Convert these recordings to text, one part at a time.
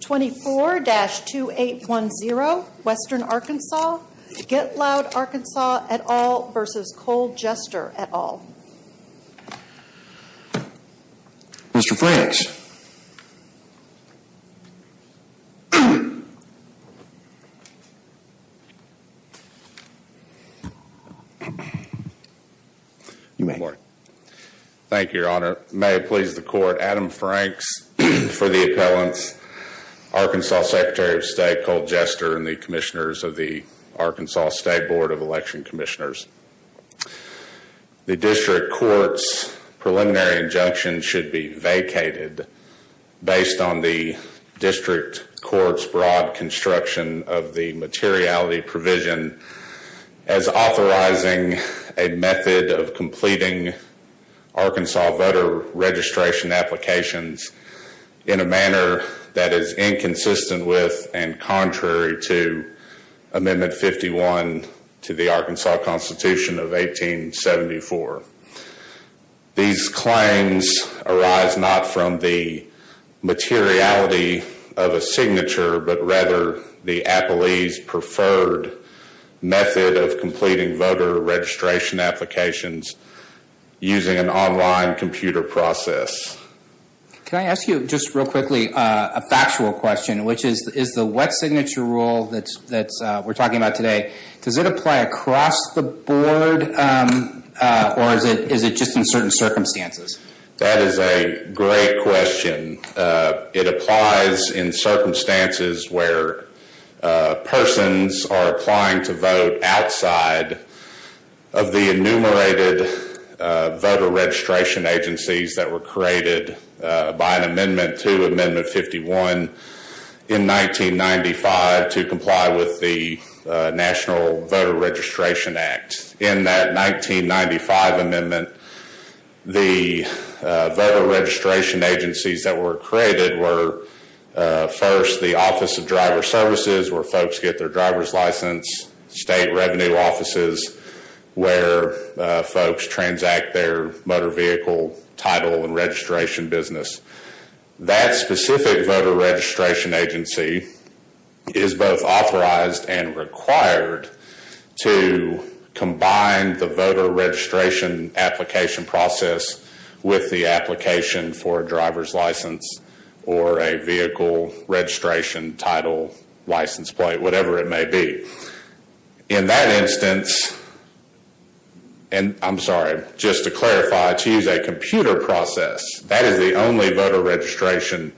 24-2810, Western Arkansas, Get Loud Arkansas et al. v. Cole Jester et al. Mr. Franks. Thank you, your honor. May it please the court, Adam Franks for the appellants, Arkansas Secretary of State Cole Jester and the commissioners of the Arkansas State Board of Election Commissioners. The district court's preliminary injunction should be vacated based on the district court's broad construction of the materiality provision as authorizing a method of completing Arkansas voter registration applications in a manner that is inconsistent with and contrary to Amendment 51 to the Arkansas Constitution of 1874. These claims arise not from the materiality of a signature but rather the appellee's preferred method of completing voter registration applications using an online computer process. Can I ask you just real quickly a factual question, which is the wet signature rule that we're talking about today, does it apply across the board or is it just in certain circumstances? That is a great question. It applies in circumstances where persons are applying to vote outside of the enumerated voter registration agencies that were created by an amendment to Amendment 51 in 1995 to comply with the National Voter Registration Act. In that 1995 amendment, the voter registration agencies that were created were first the Office of Driver Services where folks get their driver's license, state revenue offices where folks transact their motor vehicle title and registration business. That specific voter registration agency is both authorized and required to combine the voter registration application process with the application for a driver's license or a vehicle registration title, license plate, whatever it may be. In that instance, and I'm sorry, just to clarify, to use a computer process, that is the only voter registration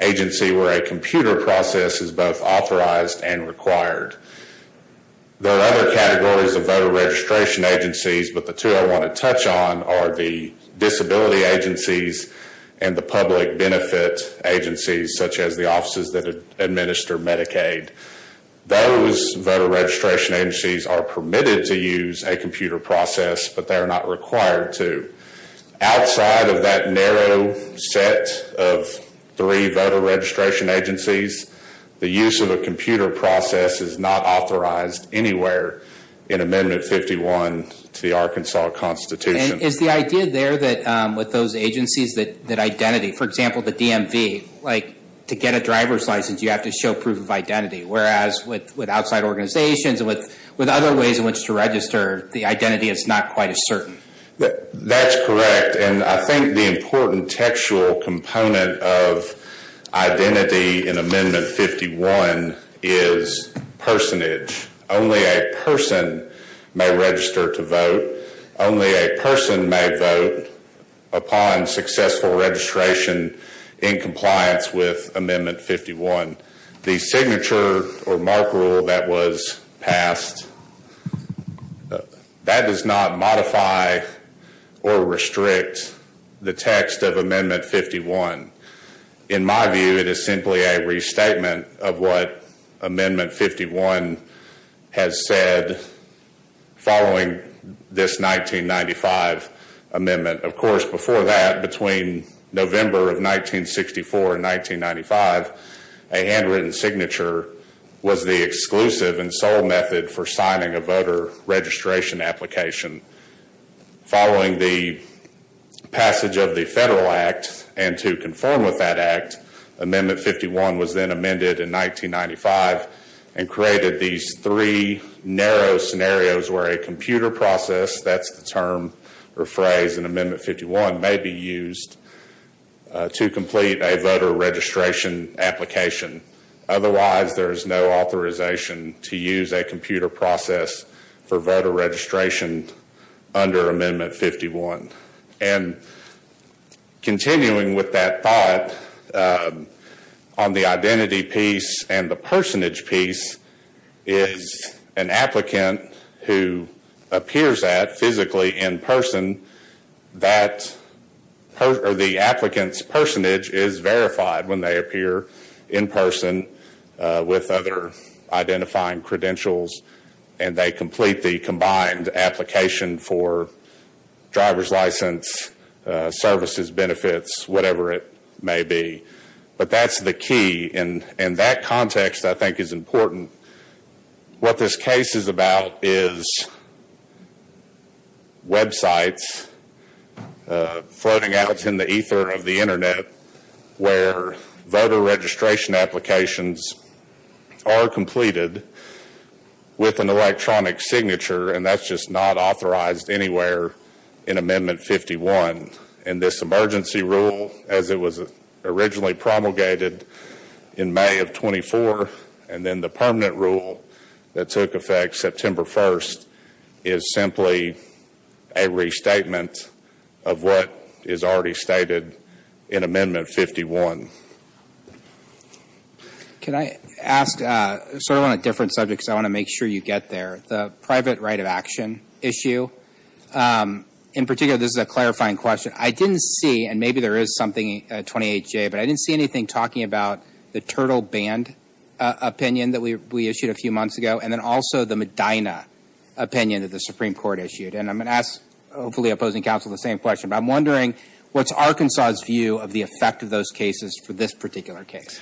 agency where a computer process is both authorized and required. There are other categories of voter registration agencies, but the two I want to touch on are the disability agencies and the public benefit agencies such as the offices that administer Medicaid. Those voter registration agencies are permitted to use a computer process, but they are not required to. Outside of that narrow set of three voter registration agencies, the use of a computer process is not authorized anywhere in Amendment 51 to the Arkansas Constitution. Is the idea there that with those agencies that identity, for example, the DMV, like to get a driver's license, you have to show proof of identity, whereas with outside organizations and with other ways in which to register, the identity is not quite as certain? That's correct, and I think the important textual component of identity in Amendment 51 is personage. Only a person may register to vote. Only a person may vote upon successful registration in compliance with Amendment 51. The signature or mark rule that was passed, that does not modify or restrict the text of Amendment 51. In my view, it is simply a restatement of what Amendment 51 has said following this 1995 amendment. Of course, before that, between November of 1964 and 1995, a handwritten signature was the exclusive and sole method for signing a voter registration application. Following the passage of the Federal Act and to conform with that Act, Amendment 51 was then amended in 1995 and created these three narrow scenarios where a computer process, that's the term or phrase in Amendment 51, may be used to complete a voter registration application. Otherwise, there is no authorization to use a computer process for voter registration under Amendment 51. Continuing with that thought on the identity piece and the personage piece, is an applicant who appears at physically in person. The applicant's personage is verified when they appear in person with other identifying credentials, and they complete the combined application for driver's license, services, benefits, whatever it may be. But that's the key, and that context, I think, is important. What this case is about is websites floating out in the ether of the Internet where voter registration applications are completed with an electronic signature, and that's just not authorized anywhere in Amendment 51. And this emergency rule, as it was originally promulgated in May of 24, and then the permanent rule that took effect September 1st, is simply a restatement of what is already stated in Amendment 51. Can I ask, sort of on a different subject because I want to make sure you get there, the private right of action issue. In particular, this is a clarifying question. I didn't see, and maybe there is something, 28J, but I didn't see anything talking about the Turtle Band opinion that we issued a few months ago, and then also the Medina opinion that the Supreme Court issued. And I'm going to ask, hopefully opposing counsel, the same question, but I'm wondering what's Arkansas' view of the effect of those cases for this particular case?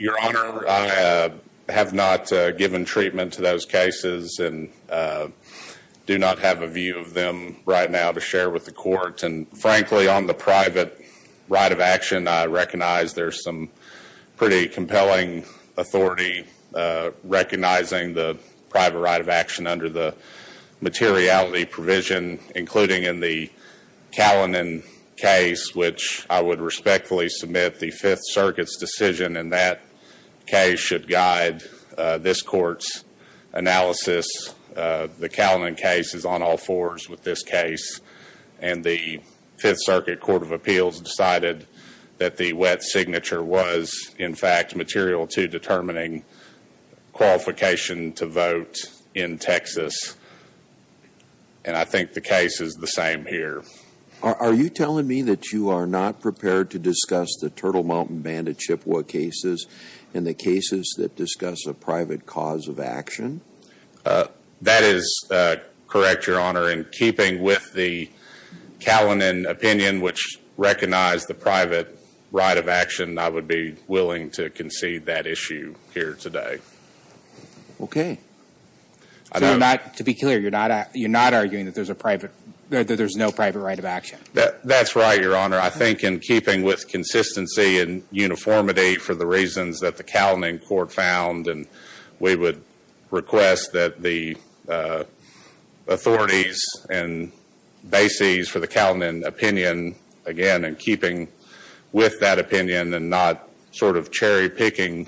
Your Honor, I have not given treatment to those cases and do not have a view of them right now to share with the court. And frankly, on the private right of action, I recognize there's some pretty compelling authority recognizing the private right of action under the materiality provision, including in the Callinan case, which I would respectfully submit the Fifth Circuit's decision in that case should guide this court's analysis. The Callinan case is on all fours with this case, and the Fifth Circuit Court of Appeals decided that the wet signature was, in fact, material to determining qualification to vote in Texas, and I think the case is the same here. Are you telling me that you are not prepared to discuss the Turtle Mountain Band of Chippewa cases and the cases that discuss a private cause of action? That is correct, Your Honor. In keeping with the Callinan opinion, which recognized the private right of action, I would be willing to concede that issue here today. So to be clear, you're not arguing that there's no private right of action? That's right, Your Honor. I think in keeping with consistency and uniformity for the reasons that the Callinan court found and we would request that the authorities and bases for the Callinan opinion, again, in keeping with that opinion and not sort of cherry-picking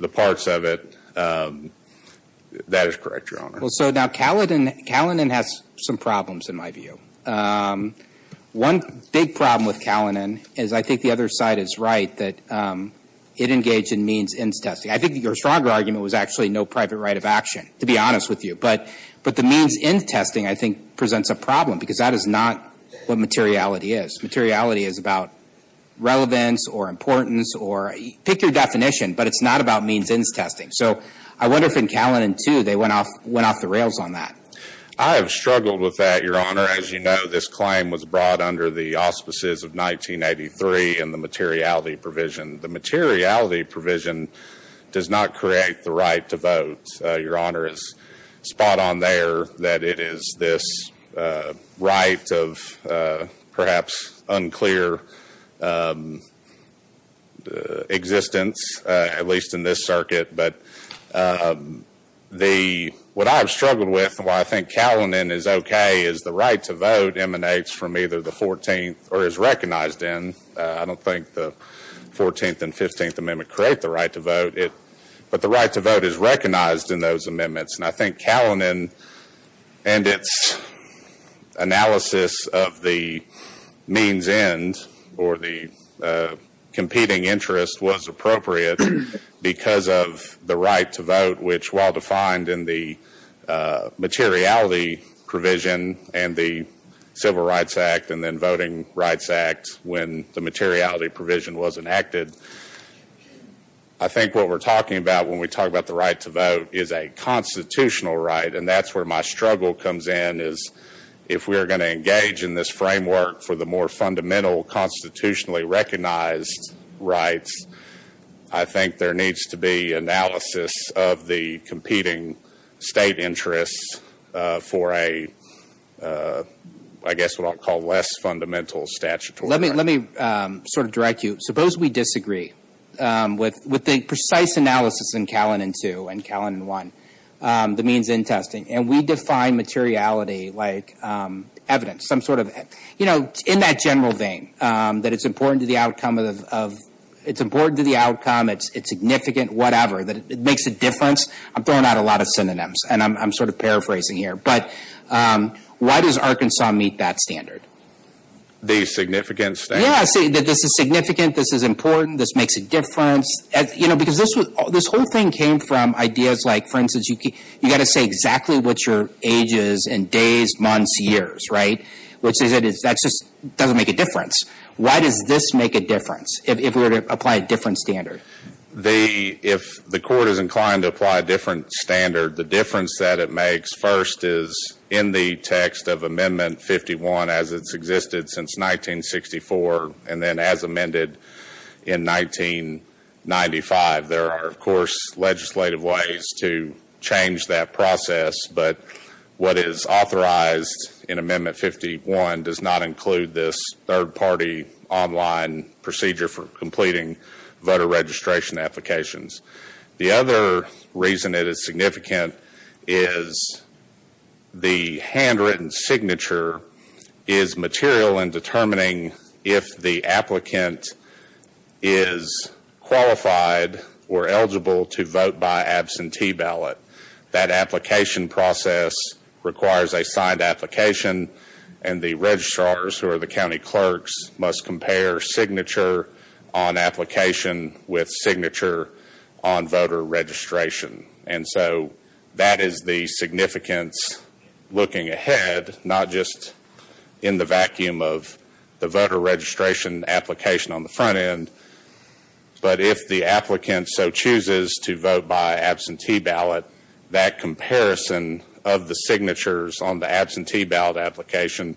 the parts of it, that is correct, Your Honor. So now Callinan has some problems, in my view. One big problem with Callinan is I think the other side is right, that it engaged in means-ends testing. I think your stronger argument was actually no private right of action, to be honest with you. But the means-ends testing, I think, presents a problem because that is not what materiality is. Materiality is about relevance or importance or pick your definition, but it's not about means-ends testing. So I wonder if in Callinan, too, they went off the rails on that. I have struggled with that, Your Honor. As you know, this claim was brought under the auspices of 1983 in the materiality provision. The materiality provision does not create the right to vote. Your Honor is spot on there that it is this right of perhaps unclear existence, at least in this circuit. But what I have struggled with and why I think Callinan is okay is the right to vote emanates from either the 14th or is recognized in, I don't think the 14th and 15th Amendment create the right to vote, but the right to vote is recognized in those amendments. And I think Callinan and its analysis of the means-ends or the competing interest was appropriate because of the right to vote, which while defined in the materiality provision and the Civil Rights Act and then Voting Rights Act when the materiality provision was enacted, I think what we're talking about when we talk about the right to vote is a constitutional right. And that's where my struggle comes in is if we are going to engage in this framework for the more fundamental constitutionally recognized rights, I think there needs to be analysis of the competing state interests for a, I guess what I'll call less fundamental statutory right. Let me sort of direct you. Suppose we disagree with the precise analysis in Callinan 2 and Callinan 1, the means-end testing, and we define materiality like evidence, some sort of, you know, in that general vein, that it's important to the outcome, it's significant, whatever, that it makes a difference. I'm throwing out a lot of synonyms, and I'm sort of paraphrasing here. But why does Arkansas meet that standard? The significant standard? Yeah, that this is significant, this is important, this makes a difference. You know, because this whole thing came from ideas like, for instance, you've got to say exactly what your age is in days, months, years, right? Which is, that just doesn't make a difference. Why does this make a difference, if we were to apply a different standard? If the court is inclined to apply a different standard, the difference that it makes, first, is in the text of Amendment 51 as it's existed since 1964, and then as amended in 1995. There are, of course, legislative ways to change that process. But what is authorized in Amendment 51 does not include this third-party online procedure for completing voter registration applications. The other reason it is significant is the handwritten signature is material in determining if the applicant is qualified or eligible to vote by absentee ballot. That application process requires a signed application, and the registrars, who are the county clerks, must compare signature on application with signature on voter registration. And so, that is the significance looking ahead, not just in the vacuum of the voter registration application on the front end. But if the applicant so chooses to vote by absentee ballot, that comparison of the signatures on the absentee ballot application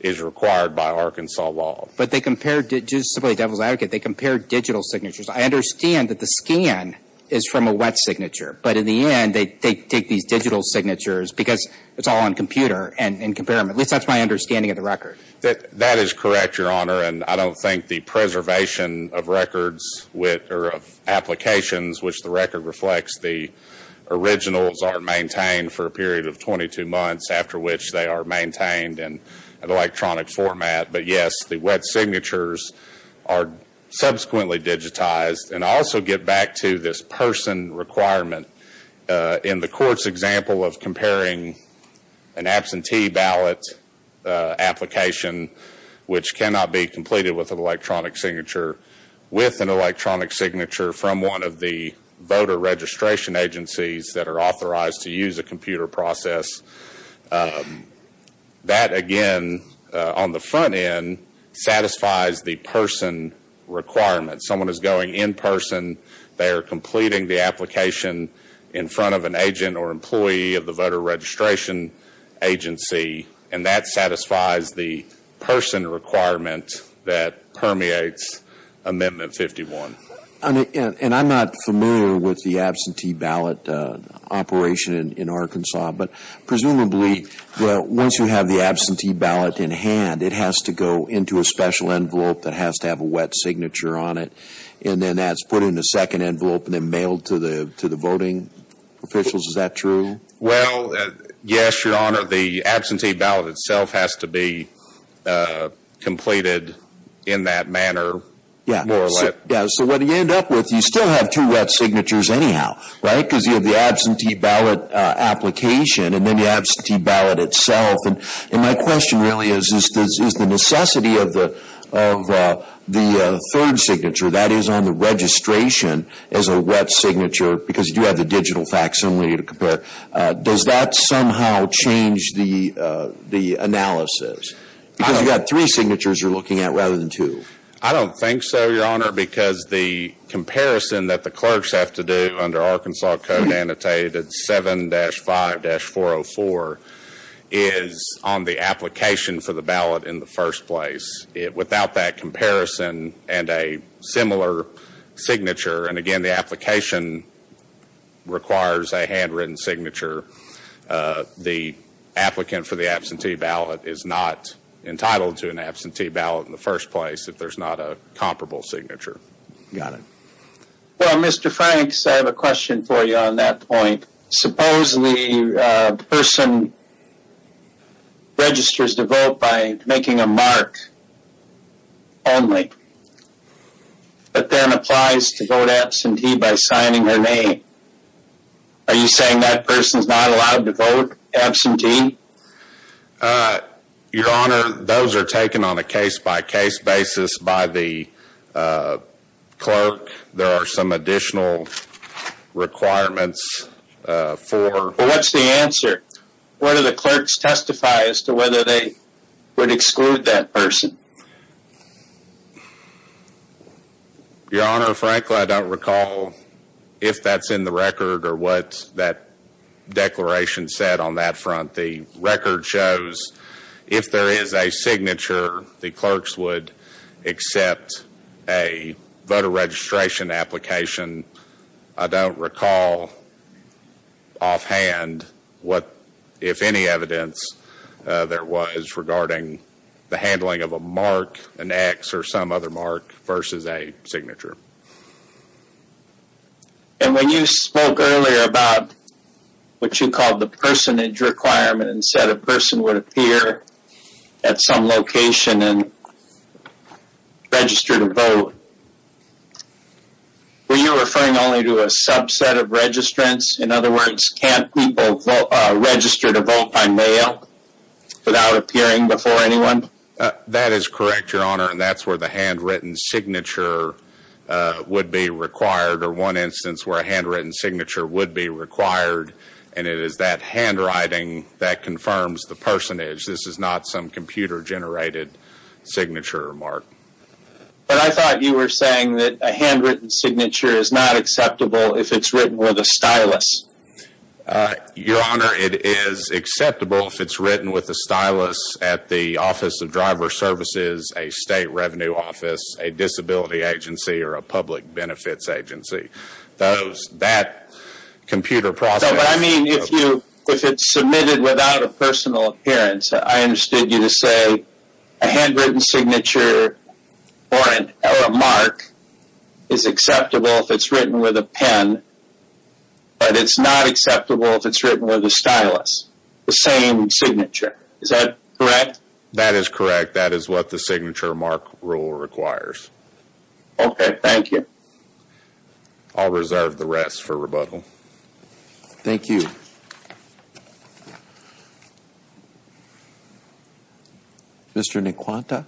is required by Arkansas law. But they compare, just to play devil's advocate, they compare digital signatures. I understand that the scan is from a wet signature, but in the end, they take these digital signatures because it's all on computer, and compare them. At least that's my understanding of the record. That is correct, Your Honor. And I don't think the preservation of records or of applications, which the record reflects, the originals are maintained for a period of 22 months, after which they are maintained in an electronic format. But yes, the wet signatures are subsequently digitized. And I also get back to this person requirement. In the court's example of comparing an absentee ballot application, which cannot be completed with an electronic signature, with an electronic signature from one of the voter registration agencies that are authorized to use a computer process, that again, on the front end, satisfies the person requirement. Someone is going in person, they are completing the application in front of an agent or employee of the voter registration agency, and that satisfies the person requirement that permeates Amendment 51. And I'm not familiar with the absentee ballot operation in Arkansas, but presumably, once you have the absentee ballot in hand, it has to go into a special envelope that has to have a wet signature on it, and then that's put in a second envelope and then mailed to the voting officials. Is that true? Well, yes, Your Honor. The absentee ballot itself has to be completed in that manner, more or less. Yes. So what you end up with, you still have two wet signatures anyhow, right? Because you have the absentee ballot application and then the absentee ballot itself. And my question really is, is the necessity of the third signature, that is on the registration as a wet signature, because you do have the digital facts only to compare, does that somehow change the analysis? Because you've got three signatures you're looking at rather than two. I don't think so, Your Honor, because the comparison that the clerks have to do under Arkansas Code Annotated 7-5-404 is on the application for the ballot in the first place. Without that comparison and a similar signature, and again the application requires a handwritten signature, the applicant for the absentee ballot is not entitled to an absentee ballot in the first place if there's not a comparable signature. Got it. Well, Mr. Franks, I have a question for you on that point. Supposedly a person registers to vote by making a mark only, but then applies to vote absentee by signing her name. Are you saying that person's not allowed to vote absentee? Your Honor, those are taken on a case-by-case basis by the clerk. There are some additional requirements for… Well, what's the answer? Where do the clerks testify as to whether they would exclude that person? Your Honor, frankly, I don't recall if that's in the record or what that declaration said on that front. What the record shows, if there is a signature, the clerks would accept a voter registration application. I don't recall offhand what, if any, evidence there was regarding the handling of a mark, an X or some other mark versus a signature. And when you spoke earlier about what you called the personage requirement and said a person would appear at some location and register to vote, were you referring only to a subset of registrants? In other words, can't people register to vote by mail without appearing before anyone? That is correct, Your Honor, and that's where the handwritten signature would be required or one instance where a handwritten signature would be required, and it is that handwriting that confirms the personage. This is not some computer-generated signature, Mark. But I thought you were saying that a handwritten signature is not acceptable if it's written with a stylus. Your Honor, it is acceptable if it's written with a stylus. at the Office of Driver Services, a state revenue office, a disability agency, or a public benefits agency. That computer process... No, but I mean if it's submitted without a personal appearance, I understood you to say a handwritten signature or a mark is acceptable if it's written with a pen, but it's not acceptable if it's written with a stylus, the same signature. Is that correct? That is correct. That is what the signature mark rule requires. Okay, thank you. I'll reserve the rest for rebuttal. Thank you. Mr. Nkwanta?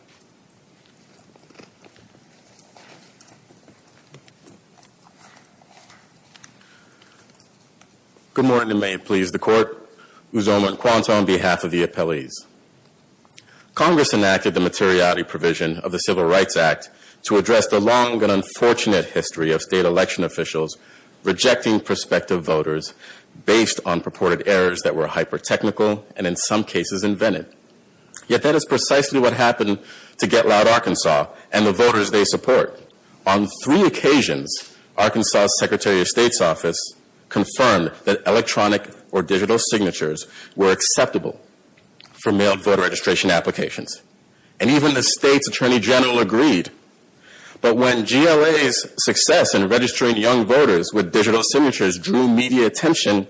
Good morning, and may it please the Court. Uzoma Nkwanta on behalf of the appellees. Congress enacted the materiality provision of the Civil Rights Act to address the long and unfortunate history of state election officials rejecting prospective voters based on purported errors that were hyper-technical and in some cases invented. Yet that is precisely what happened to Get Loud Arkansas and the voters they support. On three occasions, Arkansas' Secretary of State's office confirmed that electronic or digital signatures were acceptable for mailed voter registration applications, and even the state's Attorney General agreed. But when GLA's success in registering young voters with digital signatures drew media attention,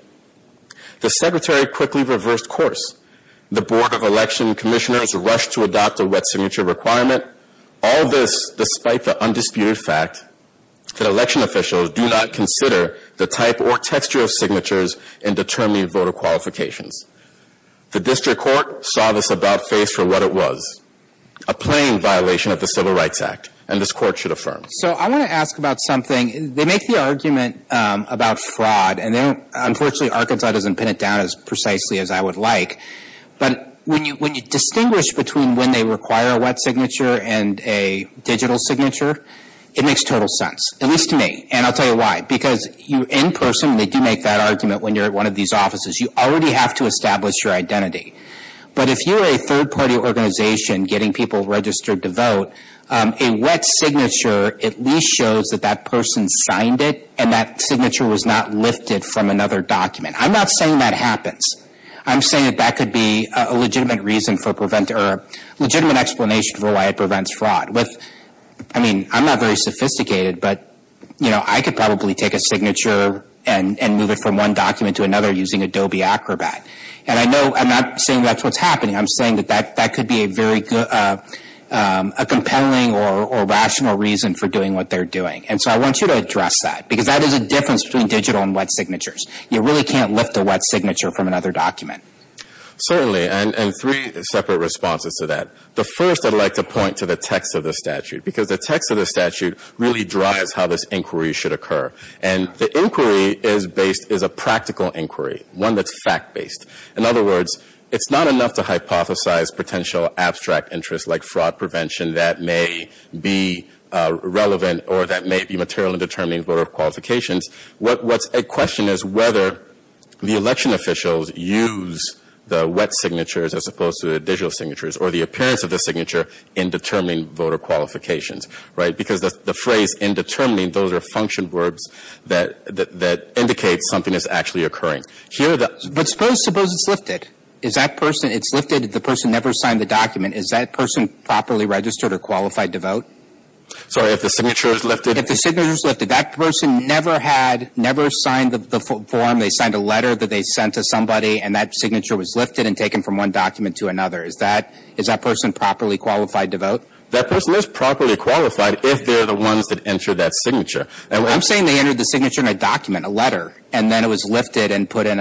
the Secretary quickly reversed course. The Board of Election Commissioners rushed to adopt a wet signature requirement, all this despite the undisputed fact that election officials do not consider the type or texture of signatures in determining voter qualifications. The District Court saw this about face for what it was, a plain violation of the Civil Rights Act, and this Court should affirm. So I want to ask about something. They make the argument about fraud, and unfortunately Arkansas doesn't pin it down as precisely as I would like, but when you distinguish between when they require a wet signature and a digital signature, it makes total sense, at least to me, and I'll tell you why. Because you, in person, they do make that argument when you're at one of these offices. You already have to establish your identity. But if you're a third-party organization getting people registered to vote, a wet signature at least shows that that person signed it and that signature was not lifted from another document. I'm not saying that happens. I'm saying that that could be a legitimate explanation for why it prevents fraud. I'm not very sophisticated, but I could probably take a signature and move it from one document to another using Adobe Acrobat. And I'm not saying that's what's happening. I'm saying that that could be a compelling or rational reason for doing what they're doing. And so I want you to address that, because that is the difference between digital and wet signatures. You really can't lift a wet signature from another document. Certainly, and three separate responses to that. The first I'd like to point to the text of the statute, because the text of the statute really drives how this inquiry should occur. And the inquiry is based, is a practical inquiry, one that's fact-based. In other words, it's not enough to hypothesize potential abstract interests like fraud prevention that may be relevant or that may be material in determining voter qualifications. What's at question is whether the election officials use the wet signatures as opposed to the digital signatures or the appearance of the signature in determining voter qualifications, right? Because the phrase in determining, those are function words that indicate something is actually occurring. But suppose it's lifted. Is that person, it's lifted, the person never signed the document. Is that person properly registered or qualified to vote? Sorry, if the signature is lifted? If the signature is lifted. That person never had, never signed the form. They signed a letter that they sent to somebody, and that signature was lifted and taken from one document to another. Is that person properly qualified to vote? That person is properly qualified if they're the ones that entered that signature. I'm saying they entered the signature in a document, a letter, and then it was lifted and put on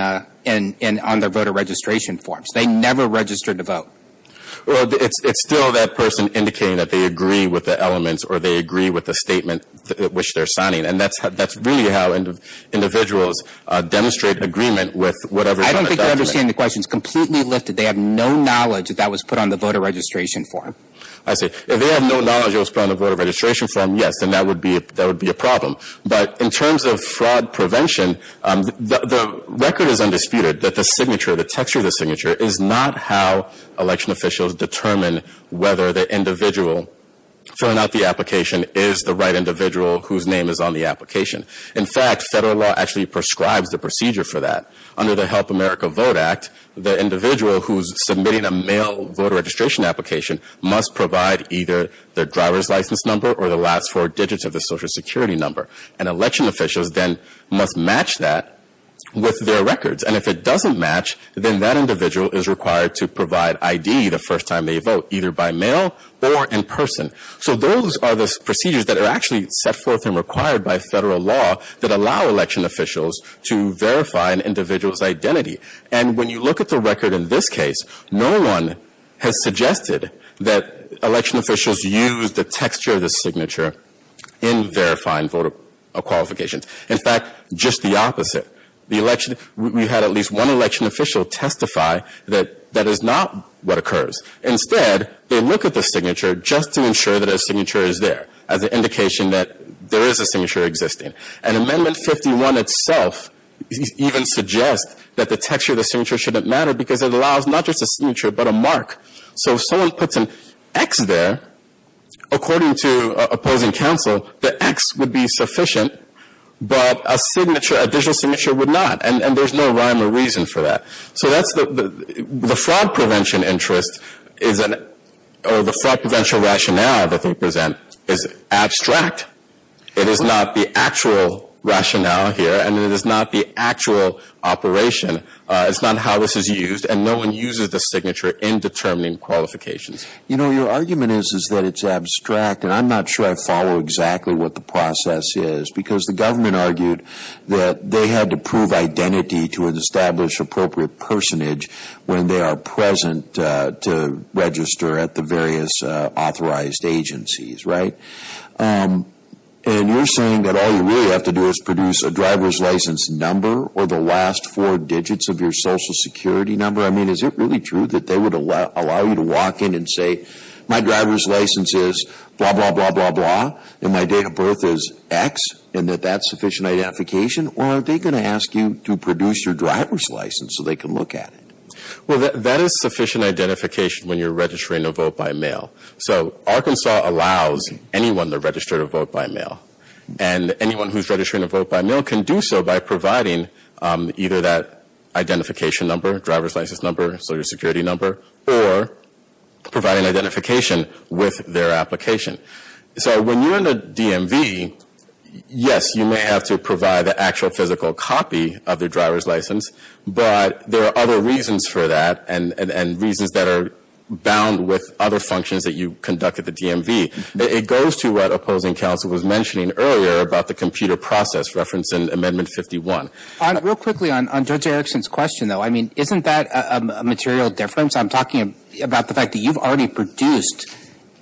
their voter registration forms. They never registered to vote. Well, it's still that person indicating that they agree with the elements or they agree with the statement which they're signing. And that's really how individuals demonstrate agreement with whatever's on the document. I don't think you're understanding the question. It's completely lifted. They have no knowledge that that was put on the voter registration form. I see. If they have no knowledge it was put on the voter registration form, yes, then that would be a problem. But in terms of fraud prevention, the record is undisputed that the signature, the texture of the signature, is not how election officials determine whether the individual filling out the application is the right individual whose name is on the application. In fact, federal law actually prescribes the procedure for that. Under the Help America Vote Act, the individual who's submitting a mail voter registration application must provide either their driver's license number or the last four digits of their Social Security number. And election officials then must match that with their records. And if it doesn't match, then that individual is required to provide ID the first time they vote, either by mail or in person. So those are the procedures that are actually set forth and required by federal law that allow election officials to verify an individual's identity. And when you look at the record in this case, no one has suggested that election officials use the texture of the signature in verifying voter qualifications. In fact, just the opposite. We had at least one election official testify that that is not what occurs. Instead, they look at the signature just to ensure that a signature is there, as an indication that there is a signature existing. And Amendment 51 itself even suggests that the texture of the signature shouldn't matter because it allows not just a signature but a mark. So if someone puts an X there, according to opposing counsel, the X would be sufficient, but a signature, a digital signature would not. And there's no rhyme or reason for that. So that's the fraud prevention interest or the fraud prevention rationale that they present is abstract. It is not the actual rationale here, and it is not the actual operation. It's not how this is used, and no one uses the signature in determining qualifications. You know, your argument is that it's abstract, and I'm not sure I follow exactly what the process is because the government argued that they had to prove identity to establish appropriate personage when they are present to register at the various authorized agencies, right? And you're saying that all you really have to do is produce a driver's license number or the last four digits of your Social Security number. I mean, is it really true that they would allow you to walk in and say, my driver's license is blah, blah, blah, blah, blah, and my date of birth is X, and that that's sufficient identification? Or are they going to ask you to produce your driver's license so they can look at it? Well, that is sufficient identification when you're registering to vote by mail. So Arkansas allows anyone to register to vote by mail, and anyone who's registering to vote by mail can do so by providing either that identification number, driver's license number, Social Security number, or providing identification with their application. So when you're in a DMV, yes, you may have to provide the actual physical copy of the driver's license, but there are other reasons for that and reasons that are bound with other functions that you conduct at the DMV. It goes to what opposing counsel was mentioning earlier about the computer process referenced in Amendment 51. Real quickly on Judge Erickson's question, though, I mean, isn't that a material difference? I'm talking about the fact that you've already produced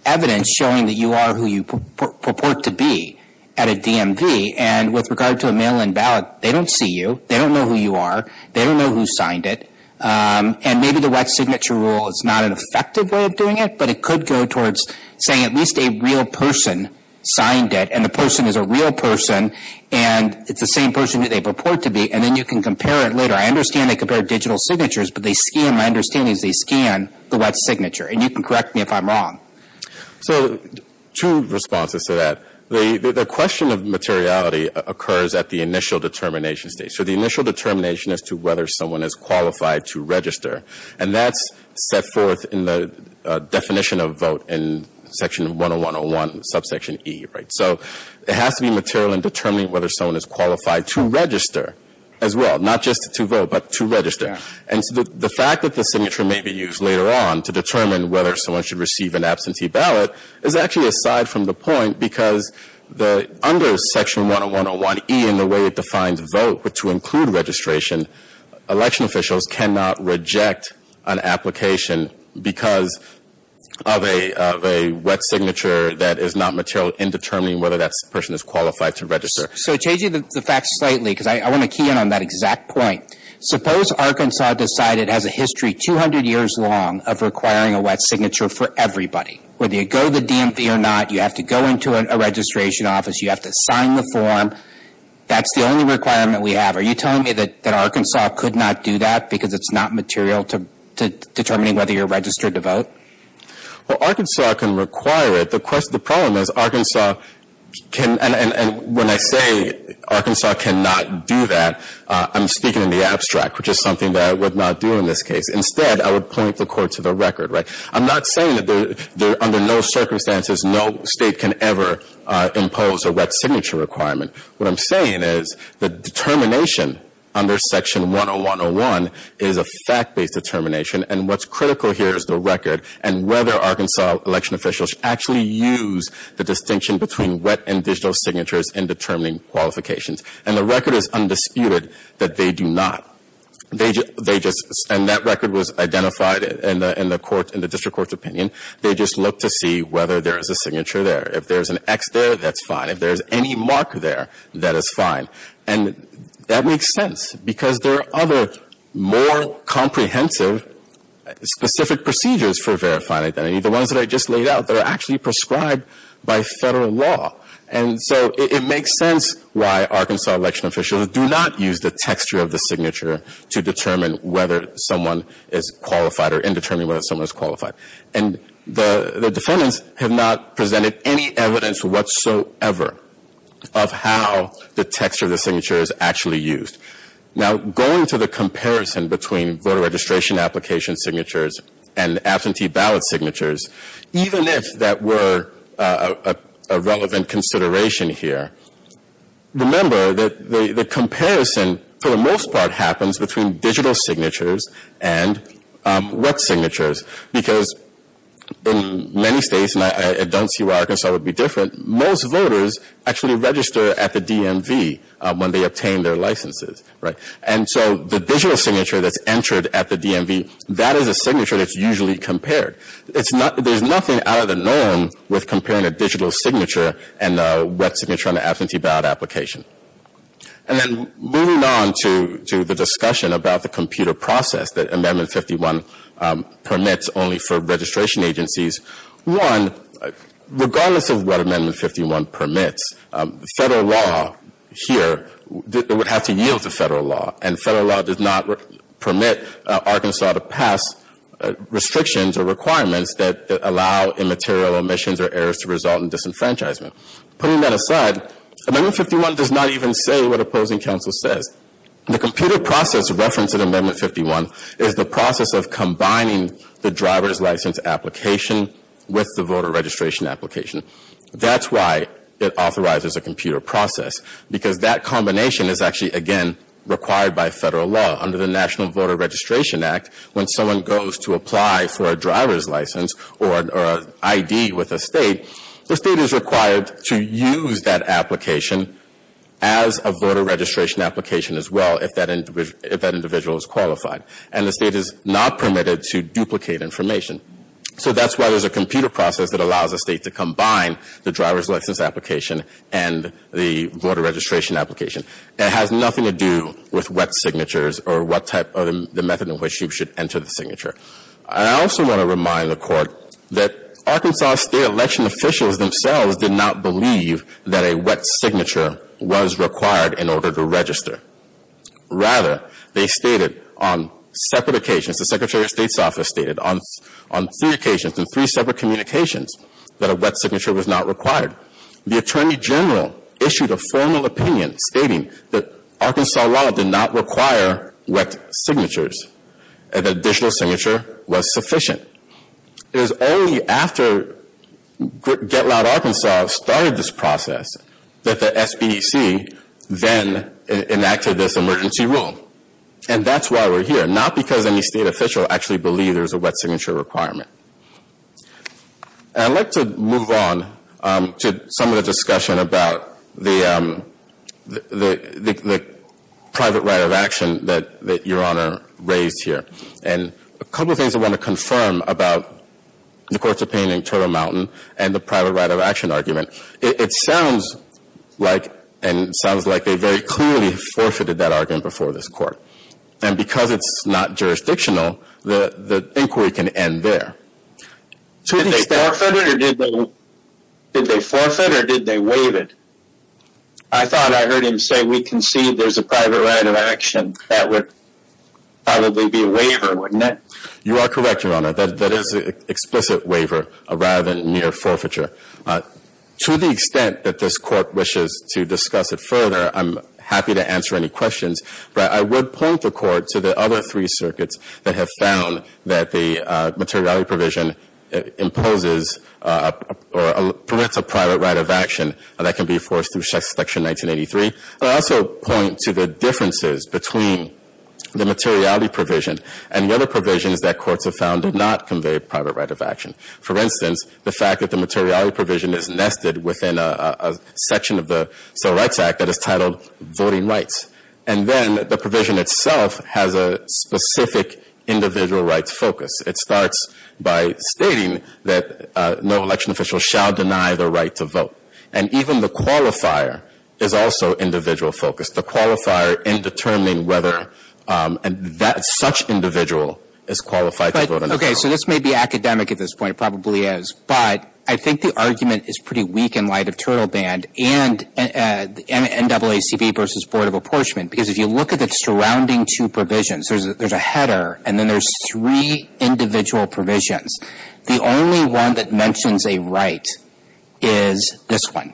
evidence showing that you are who you purport to be at a DMV, and with regard to a mail-in ballot, they don't see you, they don't know who you are, they don't know who signed it, and maybe the wet signature rule is not an effective way of doing it, but it could go towards saying at least a real person signed it, and the person is a real person, and it's the same person who they purport to be, and then you can compare it later. I understand they compare digital signatures, but my understanding is they scan the wet signature, and you can correct me if I'm wrong. So two responses to that. The question of materiality occurs at the initial determination stage. So the initial determination as to whether someone is qualified to register, and that's set forth in the definition of vote in Section 101.01, subsection E. So it has to be material in determining whether someone is qualified to register as well, not just to vote, but to register. And so the fact that the signature may be used later on to determine whether someone should receive an absentee ballot is actually aside from the point because under Section 101.01E and the way it defines vote to include registration, election officials cannot reject an application because of a wet signature that is not material in determining whether that person is qualified to register. So changing the facts slightly, because I want to key in on that exact point, suppose Arkansas decided it has a history 200 years long of requiring a wet signature for everybody. Whether you go to the DMV or not, you have to go into a registration office, you have to sign the form. That's the only requirement we have. Are you telling me that Arkansas could not do that because it's not material to determining whether you're registered to vote? Well, Arkansas can require it. The problem is Arkansas can, and when I say Arkansas cannot do that, I'm speaking in the abstract, which is something that I would not do in this case. Instead, I would point the court to the record. I'm not saying that under no circumstances no state can ever impose a wet signature requirement. What I'm saying is the determination under Section 101.01 is a fact-based determination, and what's critical here is the record and whether Arkansas election officials actually use the distinction between wet and digital signatures in determining qualifications. And the record is undisputed that they do not. They just — and that record was identified in the district court's opinion. They just look to see whether there is a signature there. If there's an X there, that's fine. If there's any mark there, that is fine. And that makes sense because there are other more comprehensive specific procedures for verifying identity. The ones that I just laid out, they're actually prescribed by federal law. And so it makes sense why Arkansas election officials do not use the texture of the signature to determine whether someone is qualified or in determining whether someone is qualified. And the defendants have not presented any evidence whatsoever of how the texture of the signature is actually used. Now, going to the comparison between voter registration application signatures and absentee ballot signatures, even if that were a relevant consideration here, remember that the comparison for the most part happens between digital signatures and wet signatures because in many states, and I don't see why Arkansas would be different, most voters actually register at the DMV when they obtain their licenses, right? And so the digital signature that's entered at the DMV, that is a signature that's usually compared. There's nothing out of the norm with comparing a digital signature and a wet signature on an absentee ballot application. And then moving on to the discussion about the computer process that Amendment 51 permits only for registration agencies, one, regardless of what Amendment 51 permits, federal law here would have to yield to federal law. And federal law does not permit Arkansas to pass restrictions or requirements that allow immaterial omissions or errors to result in disenfranchisement. Putting that aside, Amendment 51 does not even say what opposing counsel says. The computer process referenced in Amendment 51 is the process of combining the driver's license application with the voter registration application. That's why it authorizes a computer process because that combination is actually, again, required by federal law. Under the National Voter Registration Act, when someone goes to apply for a driver's license or an ID with a state, the state is required to use that application as a voter registration application as well if that individual is qualified. And the state is not permitted to duplicate information. So that's why there's a computer process that allows a state to combine the driver's license application and the voter registration application. And it has nothing to do with wet signatures or what type of the method in which you should enter the signature. I also want to remind the Court that Arkansas state election officials themselves did not believe that a wet signature was required in order to register. Rather, they stated on separate occasions, the Secretary of State's office stated on three occasions, in three separate communications, that a wet signature was not required. The Attorney General issued a formal opinion stating that Arkansas law did not require wet signatures and that additional signature was sufficient. It was only after Get Loud Arkansas started this process that the SBDC then enacted this emergency rule. And that's why we're here, not because any state official actually believed there was a wet signature requirement. I'd like to move on to some of the discussion about the private right of action that Your Honor raised here. And a couple of things I want to confirm about the Court's opinion in Turtle Mountain and the private right of action argument. It sounds like and sounds like they very clearly forfeited that argument before this Court. And because it's not jurisdictional, the inquiry can end there. Did they forfeit or did they waive it? I thought I heard him say we concede there's a private right of action. That would probably be a waiver, wouldn't it? You are correct, Your Honor. That is an explicit waiver rather than near forfeiture. To the extent that this Court wishes to discuss it further, I'm happy to answer any questions. But I would point the Court to the other three circuits that have found that the materiality provision imposes or prevents a private right of action that can be enforced through Section 1983. I'd also point to the differences between the materiality provision and the other provisions that courts have found did not convey a private right of action. For instance, the fact that the materiality provision is nested within a section of the Civil Rights Act that is titled voting rights. And then the provision itself has a specific individual rights focus. It starts by stating that no election official shall deny the right to vote. And even the qualifier is also individual focused. The qualifier in determining whether such an individual is qualified to vote. Okay. So this may be academic at this point. It probably is. But I think the argument is pretty weak in light of Turtle Band and NAACP versus Board of Apportionment. Because if you look at the surrounding two provisions, there's a header and then there's three individual provisions. The only one that mentions a right is this one.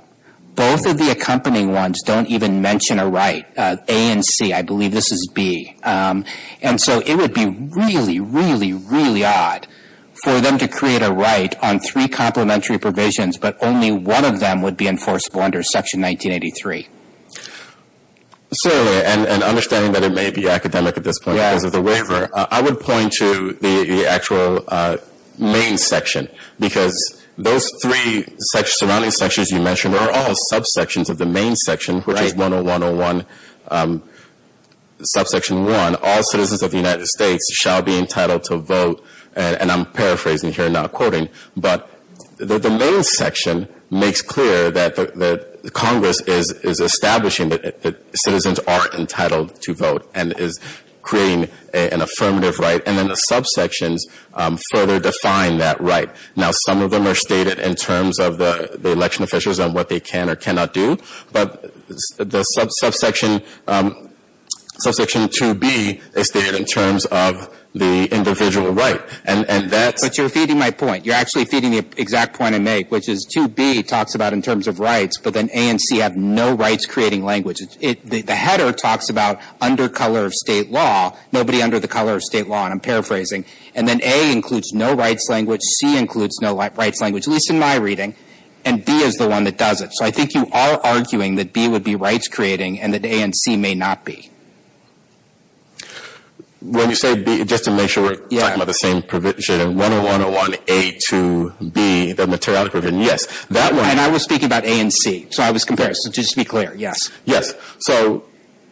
Both of the accompanying ones don't even mention a right. A and C. I believe this is B. And so it would be really, really, really odd for them to create a right on three complementary provisions, but only one of them would be enforceable under Section 1983. Certainly. And understanding that it may be academic at this point because of the waiver, I would point to the actual main section. Because those three surrounding sections you mentioned are all subsections of the main section, which is 10101, subsection 1, all citizens of the United States shall be entitled to vote. And I'm paraphrasing here, not quoting. But the main section makes clear that Congress is establishing that citizens are entitled to vote and is creating an affirmative right. And then the subsections further define that right. Now, some of them are stated in terms of the election officials and what they can or cannot do. But the subsection 2B is stated in terms of the individual right. And that's – But you're feeding my point. You're actually feeding the exact point I make, which is 2B talks about in terms of rights, but then A and C have no rights-creating language. The header talks about under color of state law. Nobody under the color of state law, and I'm paraphrasing. And then A includes no rights language. C includes no rights language, at least in my reading. And B is the one that does it. So I think you are arguing that B would be rights-creating and that A and C may not be. When you say B, just to make sure we're talking about the same provision, 101A to B, the materiality provision, yes. And I was speaking about A and C. So I was comparing. So just to be clear, yes. Yes. So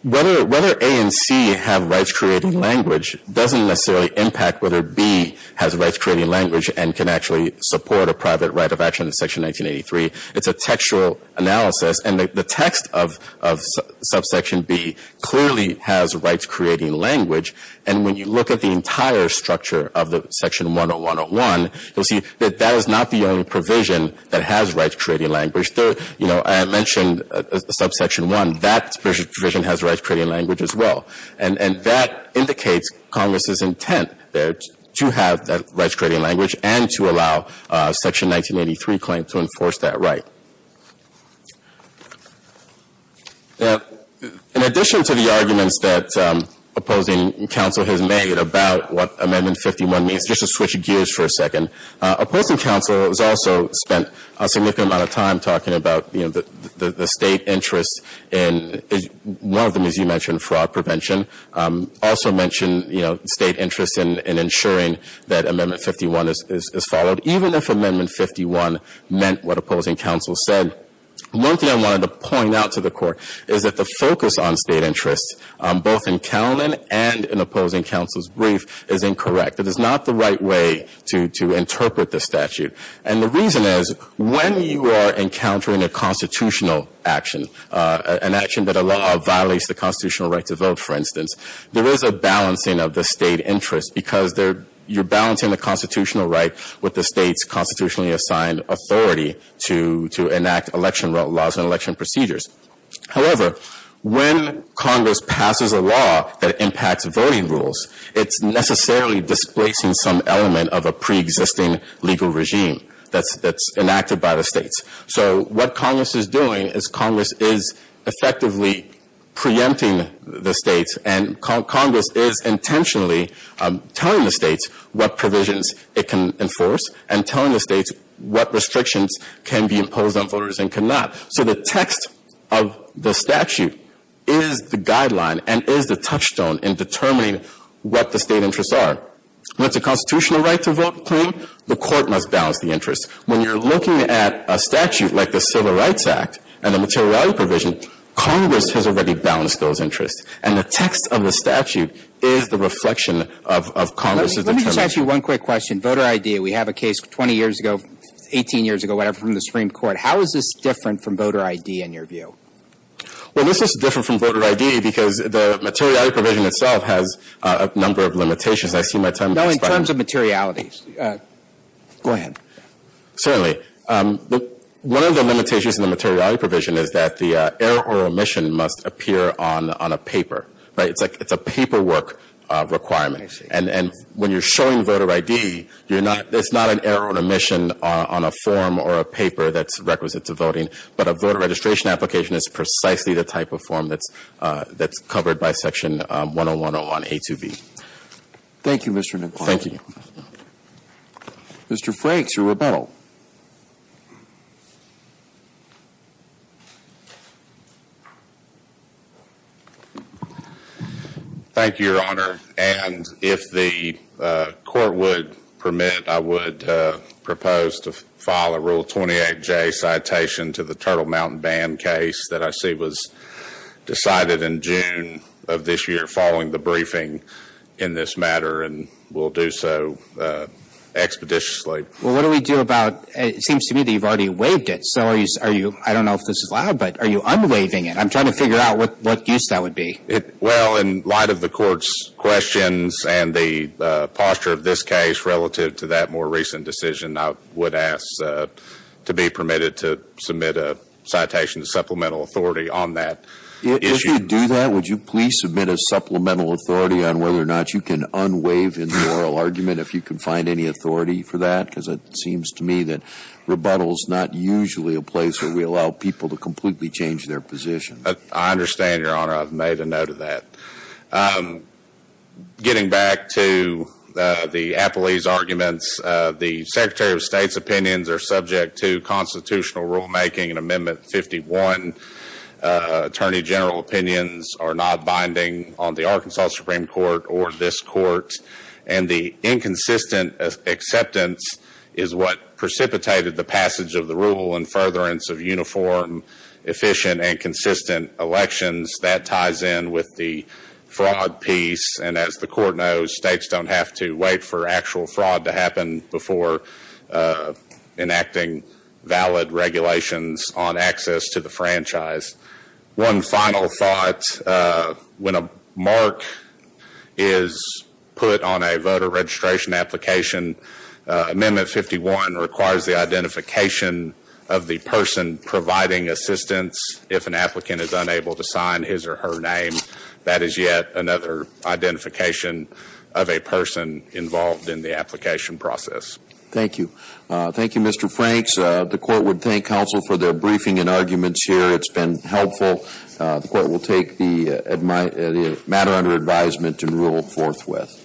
whether A and C have rights-creating language doesn't necessarily impact whether B has rights-creating language and can actually support a private right of action in Section 1983. It's a textual analysis. And the text of Subsection B clearly has rights-creating language. And when you look at the entire structure of the Section 10101, you'll see that that is not the only provision that has rights-creating language. There, you know, I mentioned Subsection 1. That provision has rights-creating language as well. And that indicates Congress's intent there to have rights-creating language and to allow Section 1983 claim to enforce that right. Now, in addition to the arguments that opposing counsel has made about what Amendment 51 means, just to switch gears for a second, opposing counsel has also spent a significant amount of time talking about, you know, the State interest in one of them, as you mentioned, fraud prevention, also mentioned, you know, State interest in ensuring that Amendment 51 is followed, even if Amendment 51 meant what opposing counsel said. One thing I wanted to point out to the Court is that the focus on State interest, both in Cowlin and in opposing counsel's brief, is incorrect. It is not the right way to interpret the statute. And the reason is when you are encountering a constitutional action, an action that a law violates the constitutional right to vote, for instance, there is a balancing of the State interest because you're balancing the constitutional right with the State's constitutionally assigned authority to enact election laws and election procedures. However, when Congress passes a law that impacts voting rules, it's necessarily displacing some element of a preexisting legal regime that's enacted by the States. So what Congress is doing is Congress is effectively preempting the States, and Congress is intentionally telling the States what provisions it can enforce and telling the States what restrictions can be imposed on voters and cannot. So the text of the statute is the guideline and is the touchstone in determining what the State interests are. When it's a constitutional right to vote claim, the Court must balance the interests. When you're looking at a statute like the Civil Rights Act and the materiality provision, Congress has already balanced those interests. And the text of the statute is the reflection of Congress's determination. Let me just ask you one quick question. Voter ID, we have a case 20 years ago, 18 years ago, whatever, from the Supreme Court. How is this different from voter ID in your view? Well, this is different from voter ID because the materiality provision itself has a number of limitations. I see my time has expired. No, in terms of materiality. Go ahead. One of the limitations in the materiality provision is that the error or omission must appear on a paper, right? It's like it's a paperwork requirement. And when you're showing voter ID, there's not an error or omission on a form or a paper that's requisite to voting, but a voter registration application is precisely the type of form that's covered by Section 110 on A2B. Thank you, Mr. McLaughlin. Thank you. Mr. Frakes or Rebuttal. Thank you, Your Honor. And if the court would permit, I would propose to file a Rule 28J citation to the Turtle Mountain Band case that I see was decided in June of this year following the briefing in this matter, and will do so expeditiously. Well, what do we do about – it seems to me that you've already waived it. So are you – I don't know if this is allowed, but are you unwaiving it? I'm trying to figure out what use that would be. Well, in light of the court's questions and the posture of this case relative to that more recent decision, I would ask to be permitted to submit a citation to supplemental authority on that issue. If you do that, would you please submit a supplemental authority on whether or not you can unwaive in the oral argument if you can find any authority for that? Because it seems to me that rebuttal is not usually a place where we allow people to completely change their position. I understand, Your Honor. I've made a note of that. Getting back to the Appellee's arguments, the Secretary of State's opinions are subject to constitutional rulemaking in Amendment 51. Attorney General opinions are not binding on the Arkansas Supreme Court or this Court, and the inconsistent acceptance is what precipitated the passage of the rule and furtherance of uniform, efficient, and consistent elections. That ties in with the fraud piece, and as the Court knows, states don't have to wait for actual fraud to happen before enacting valid regulations on access to the franchise. One final thought. When a mark is put on a voter registration application, Amendment 51 requires the identification of the person providing assistance if an applicant is unable to sign his or her name. That is yet another identification of a person involved in the application process. Thank you. Thank you, Mr. Franks. The Court would thank counsel for their briefing and arguments here. It's been helpful. The Court will take the matter under advisement and rule forthwith.